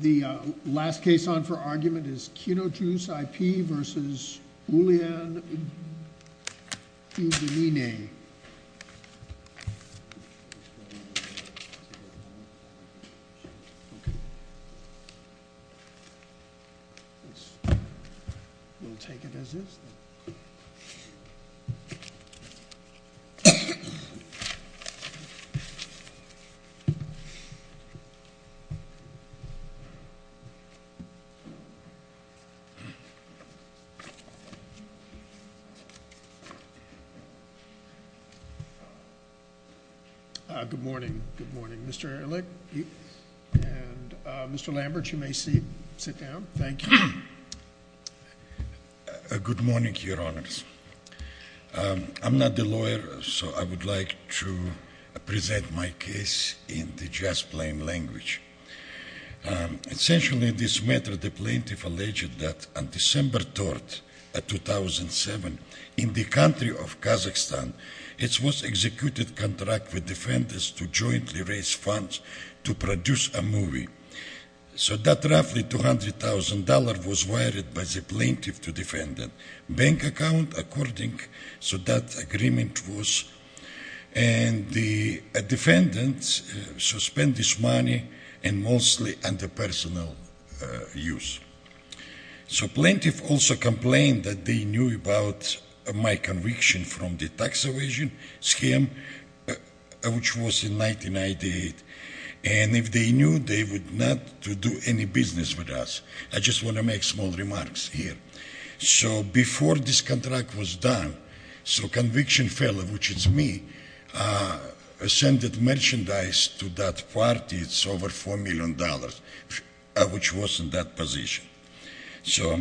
The last case on for argument is Kinojuz I.P. v. Julian Iguilini. Good morning. Good morning. Mr. Erlich and Mr. Lambert, you may sit down. Thank you. Good morning, Your Honors. I'm not a lawyer, so I would like to present my case in the language. Essentially, in this matter, the plaintiff alleged that on December 3, 2007, in the country of Kazakhstan, it was executed contract with defenders to jointly raise funds to produce a movie. So that roughly $200,000 was wired by the plaintiff to defendant. Bank and mostly under personal use. So plaintiff also complained that they knew about my conviction from the tax evasion scheme, which was in 1998. And if they knew, they would not do any business with us. I just want to make small remarks here. So before this contract was done, so conviction fellow, which is me, sent merchandise to that party. It's over $4 million, which was in that position. So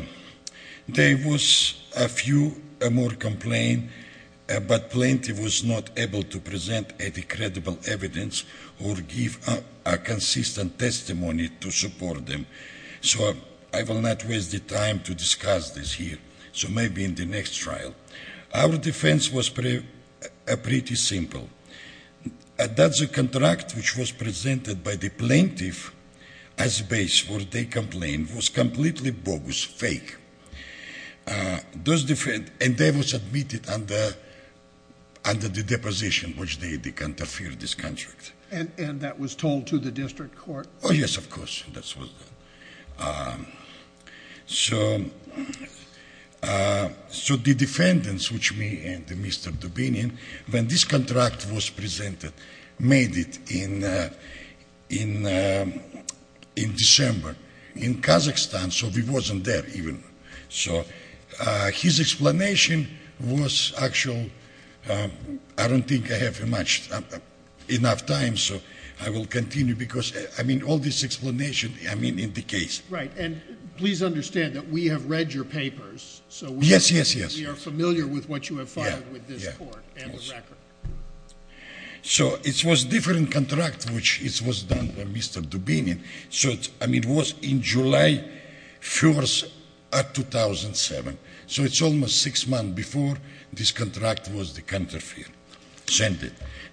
there was a few more complaint, but plaintiff was not able to present any credible evidence or give a consistent testimony to support them. So I will not waste the time to discuss this here. So maybe in the next trial. Our defense was pretty simple. That's a contract which was presented by the plaintiff as base where they complained was completely bogus, fake. And they were submitted under the deposition which they interfered this contract. And that was told to the district court? Oh, yes, of course, that's what's done. So the defendants, which me and Mr. Dubinian, when this contract was presented, made it in December in Kazakhstan. So we wasn't there even. So his explanation was actual, I don't think I have enough time. So I will continue because I mean, all this explanation, I mean, in the case, right. And please understand that we have read your papers. So yes, yes, yes. We are familiar with what you have filed with this court and the record. So it was different contract, which is was done by Mr. Dubinian. So I mean, it was in July 1st, 2007. So it's almost six months before this contract was sent.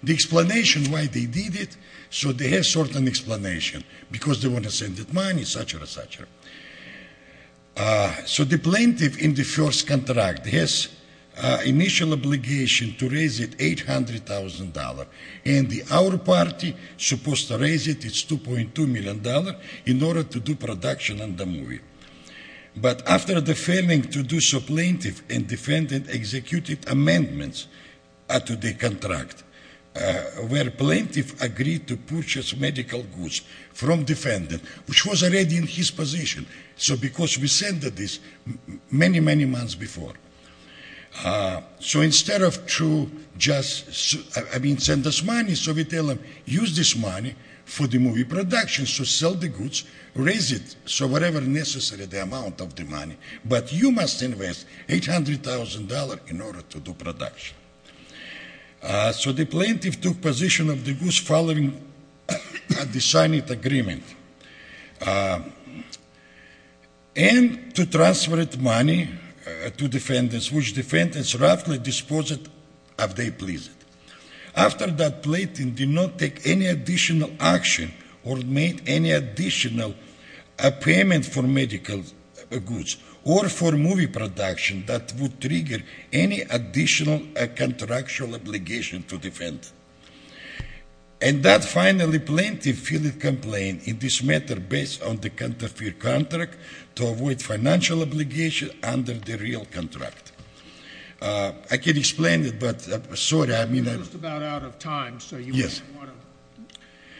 The explanation why they did it, so they have certain explanation. Because they want to send the money, etc., etc. So the plaintiff in the first contract has initial obligation to raise it $800,000. And our party supposed to raise it, it's $2.2 million, in order to do production on the movie. But after the failing to do so, plaintiff and defendant executed amendments to the contract, where plaintiff agreed to purchase medical goods from defendant, which was already in his position. So because we sent this many, many months before. So instead of to just, I mean, send us money, so we tell them, use this money for the movie production. So sell the goods, raise it, so whatever necessary, the amount of the money. But you must invest $800,000 in order to do production. So the plaintiff took position of the goods following the signing of the agreement. And to transfer the money to defendants, which defendants roughly dispose it as they please. After that, plaintiff did not take any additional action, or made any additional payment for medical goods, or for movie production that would trigger any additional contractual obligation to defend. And that finally plaintiff filed a complaint in this matter, based on the counterfeit contract, to avoid financial obligation under the real contract. I can explain it, but sorry, I mean... You're just about out of time, so you might want to...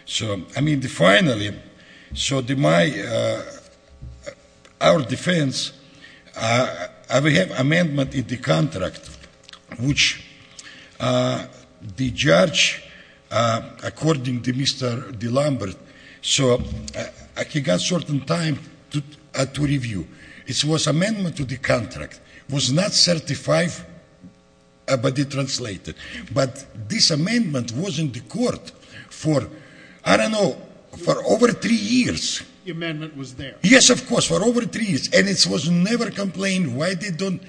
So, I mean, finally, so the my, our defense, we have amendment in the contract, which the judge, according to Mr. Lombard, so he got certain time to review. It was amendment to the contract. It was not certified, but it translated. But this amendment was in the court for, I don't know, for over three years. The amendment was there. Yes, of course, for over three years. And it was never complained why they don't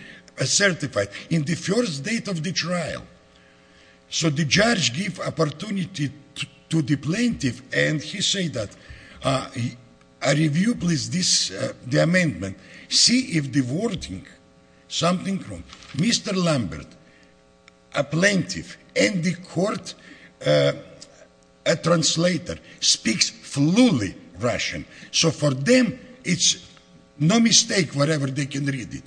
certify. In the first date of the trial. So the judge give opportunity to the plaintiff, and he something wrong. Mr. Lombard, a plaintiff, and the court, a translator, speaks fluently Russian. So for them, it's no mistake whatever they can read it.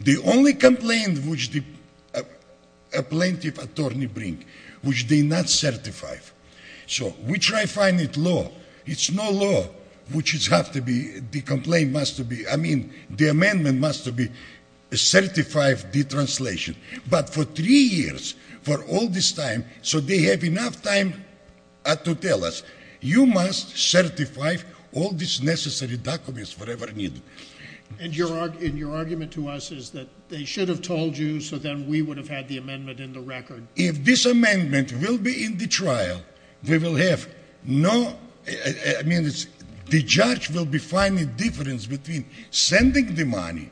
The only complaint which the plaintiff attorney bring, which they not certified. So we try find it law. It's no law, which is have to be, the complaint must to be, I mean, the amendment must to be certified the translation. But for three years, for all this time, so they have enough time to tell us, you must certify all this necessary documents whatever needed. And your argument to us is that they should have told you, so then we would have had the amendment in the record. If this amendment will be in the trial, we will have no, I mean, the judge will be finding difference between sending the money,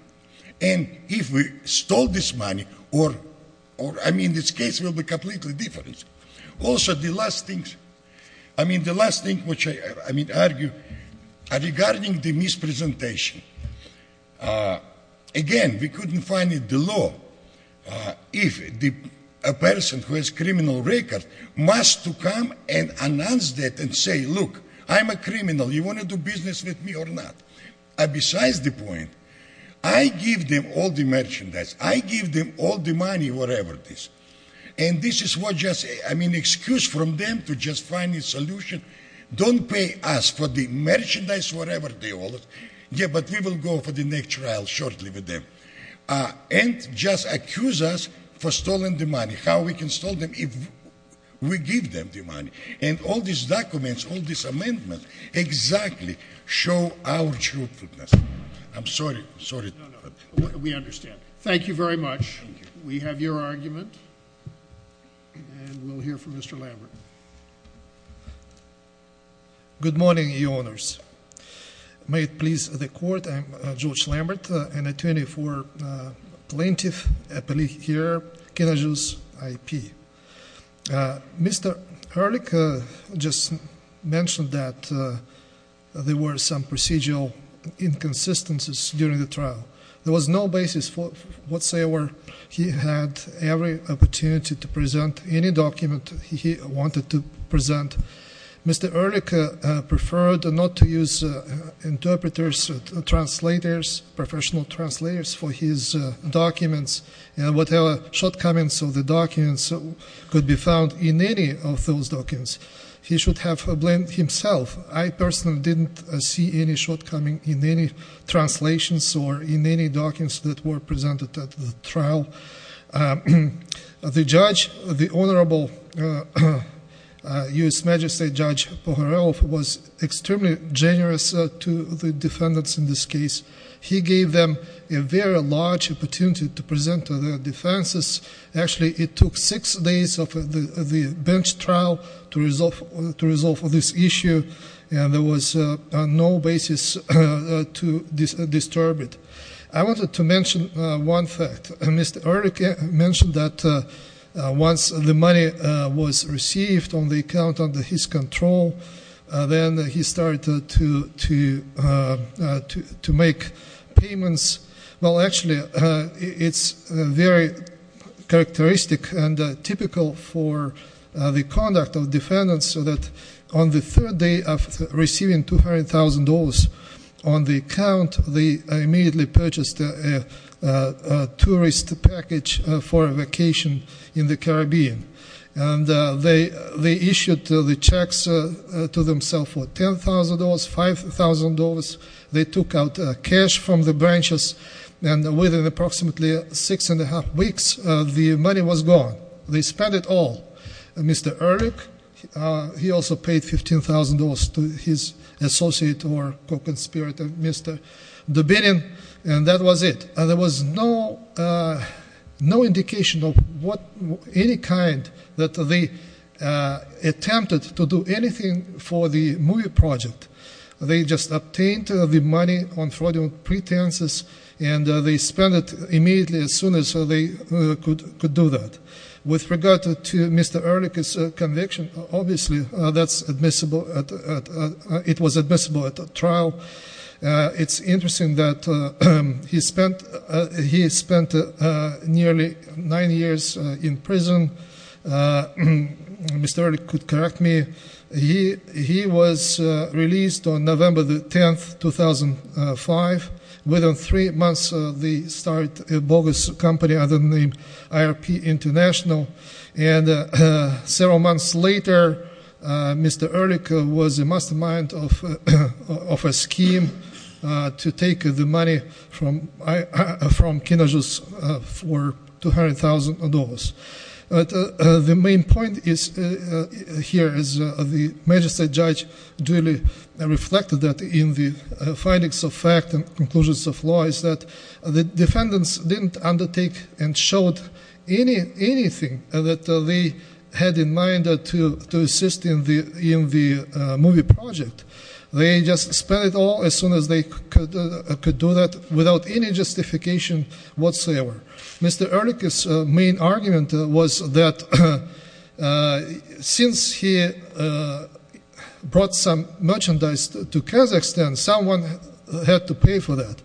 and if we stole this money, or, I mean, this case will be completely different. Also, the last thing, I mean, the last thing which I mean argue, regarding the mispresentation. Again, we couldn't find it the law. If a person who has criminal record must to come and announce that and say, look, I'm a criminal, you want to do business with me or not? Besides the point, I give them all the merchandise. I give them all the money, whatever it is. And this is what just, I mean, excuse from them to just find a solution. Don't pay us for the merchandise, whatever they owe us. Yeah, but we will go for the next trial shortly with them. And just accuse us for stolen the money. How we can stole them if we give them the money? And all these documents, all these amendments, exactly show our truthfulness. I'm sorry, sorry. No, no, we understand. Thank you very much. We have your argument, and we'll hear from Mr. Lambert. Good morning, Your Honors. May it please the Court, I'm George Lambert, an attorney for Plaintiff Appellee here, Kenosha's IP. Mr. Ehrlich just mentioned that there were some procedural inconsistencies during the trial. There was no basis whatsoever. He had every document he wanted to present. Mr. Ehrlich preferred not to use interpreters, translators, professional translators for his documents. Whatever shortcomings of the documents could be found in any of those documents, he should have blamed himself. I personally didn't see any shortcomings in any translations or in any documents that were presented at the trial. The judge, the Honorable U.S. Majesty Judge Pohorelov was extremely generous to the defendants in this case. He gave them a very large opportunity to present their defenses. Actually, it took six days of the bench trial to resolve this issue, and there was no basis to disturb it. I wanted to mention one fact. Mr. Ehrlich mentioned that once the money was received on the account under his control, then he started to make payments. Well, actually, it's very characteristic and typical for the conduct of defendants so that on the third day of receiving $200,000 on the account, they immediately purchased a tourist package for a vacation in the Caribbean. They issued the checks to themselves for $10,000, $5,000. They took out cash from the branches, and within approximately six and a half weeks, the money was gone. They spent it all. Mr. Ehrlich, he also paid $15,000 to his associate or co-conspirator, Mr. Dubinin, and that was it. There was no indication of any kind that they attempted to do anything for the movie project. They just obtained the money on fraudulent could do that. With regard to Mr. Ehrlich's conviction, obviously, that's admissible. It was admissible at the trial. It's interesting that he spent nearly nine years in prison. Mr. Ehrlich could correct me. He was released on November the 10th, 2005. Within three months, they started a bogus company under the name IRP International, and several months later, Mr. Ehrlich was a mastermind of a scheme to take the money from Kinajus for $200,000. The main point here is the magistrate judge duly reflected that in the findings of fact and conclusions of law is that the defendants didn't undertake and showed anything that they had in mind to assist in the movie project. They just spent it all as soon as they could do that without any justification whatsoever. Mr. Ehrlich's main argument was that since he brought some merchandise to Kazakhstan, someone had to pay for that.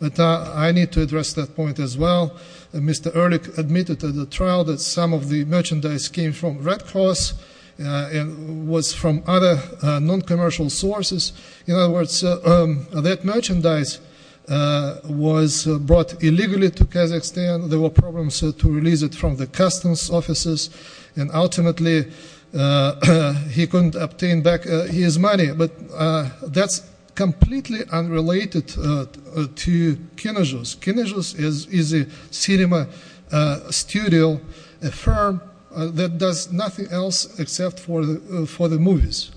But I need to address that point as well. Mr. Ehrlich admitted to the trial that some of the merchandise came from Red Cross and was from other non-commercial sources. In other words, that merchandise was brought illegally to Kazakhstan. There were problems to release from the customs offices, and ultimately, he couldn't obtain back his money. But that's completely unrelated to Kinajus. Kinajus is a cinema studio, a firm that does nothing else except for the movies.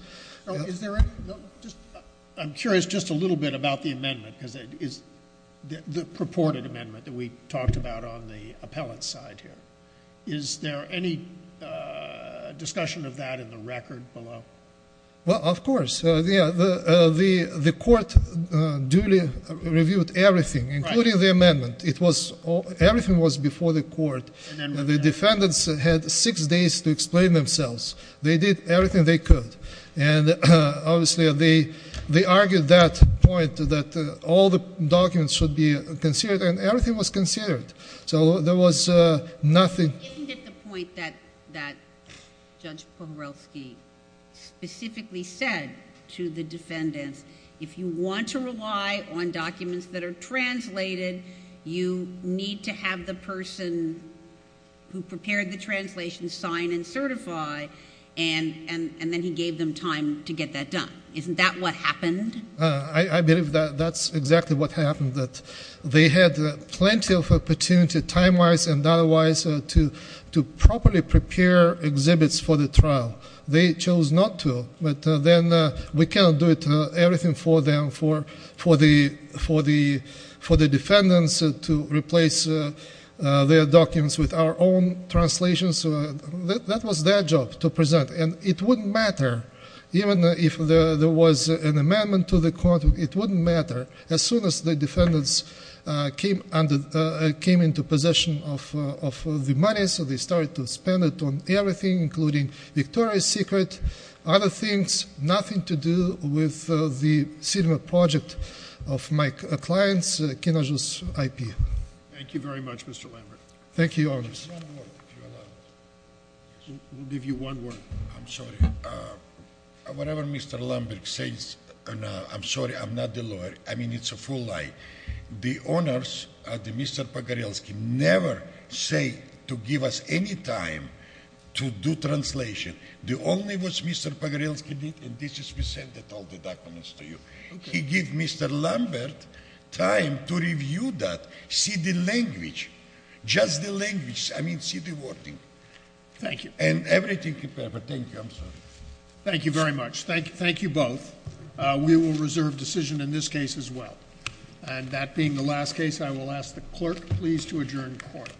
I'm curious just a little bit about the amendment, the purported amendment that we talked about on the appellate side here. Is there any discussion of that in the record below? Of course. The court duly reviewed everything, including the amendment. Everything was before the court. The defendants had six days to explain all the documents should be considered, and everything was considered. So there was nothing. Isn't it the point that Judge Pomerelsky specifically said to the defendants, if you want to rely on documents that are translated, you need to have the person who prepared the translation sign and certify, and then he gave them time to get that done. Isn't that what happened? I believe that's exactly what happened, that they had plenty of opportunity, time-wise and data-wise, to properly prepare exhibits for the trial. They chose not to, but then we cannot do everything for them, for the defendants to replace their documents with our own translations. That was their job, to present, and it wouldn't matter even if there was an amendment to the court. It wouldn't matter. As soon as the defendants came into possession of the money, so they started to spend it on everything, including Victoria's Secret, other things, nothing to do with the cinema project of my clients, Kinoju's IP. Thank you very much, Mr. Lambert. Thank you, Your Honor. Just one word, if you allow me. We'll give you one word. I'm sorry. Whatever Mr. Lambert says, I'm sorry, I'm not the lawyer. I mean, it's a full lie. The owners, Mr. Pogorelski, never say to give us any time to do translation. The only was Mr. Pogorelski did, and this is, we sent all the documents to you. He gave Mr. Lambert time to review that, see the language, just the language. I mean, see the wording. Thank you. And everything prepared, but thank you, I'm sorry. Thank you very much. Thank you both. We will reserve decision in this case as well. And that being the last case, I will ask the clerk, please, to adjourn court.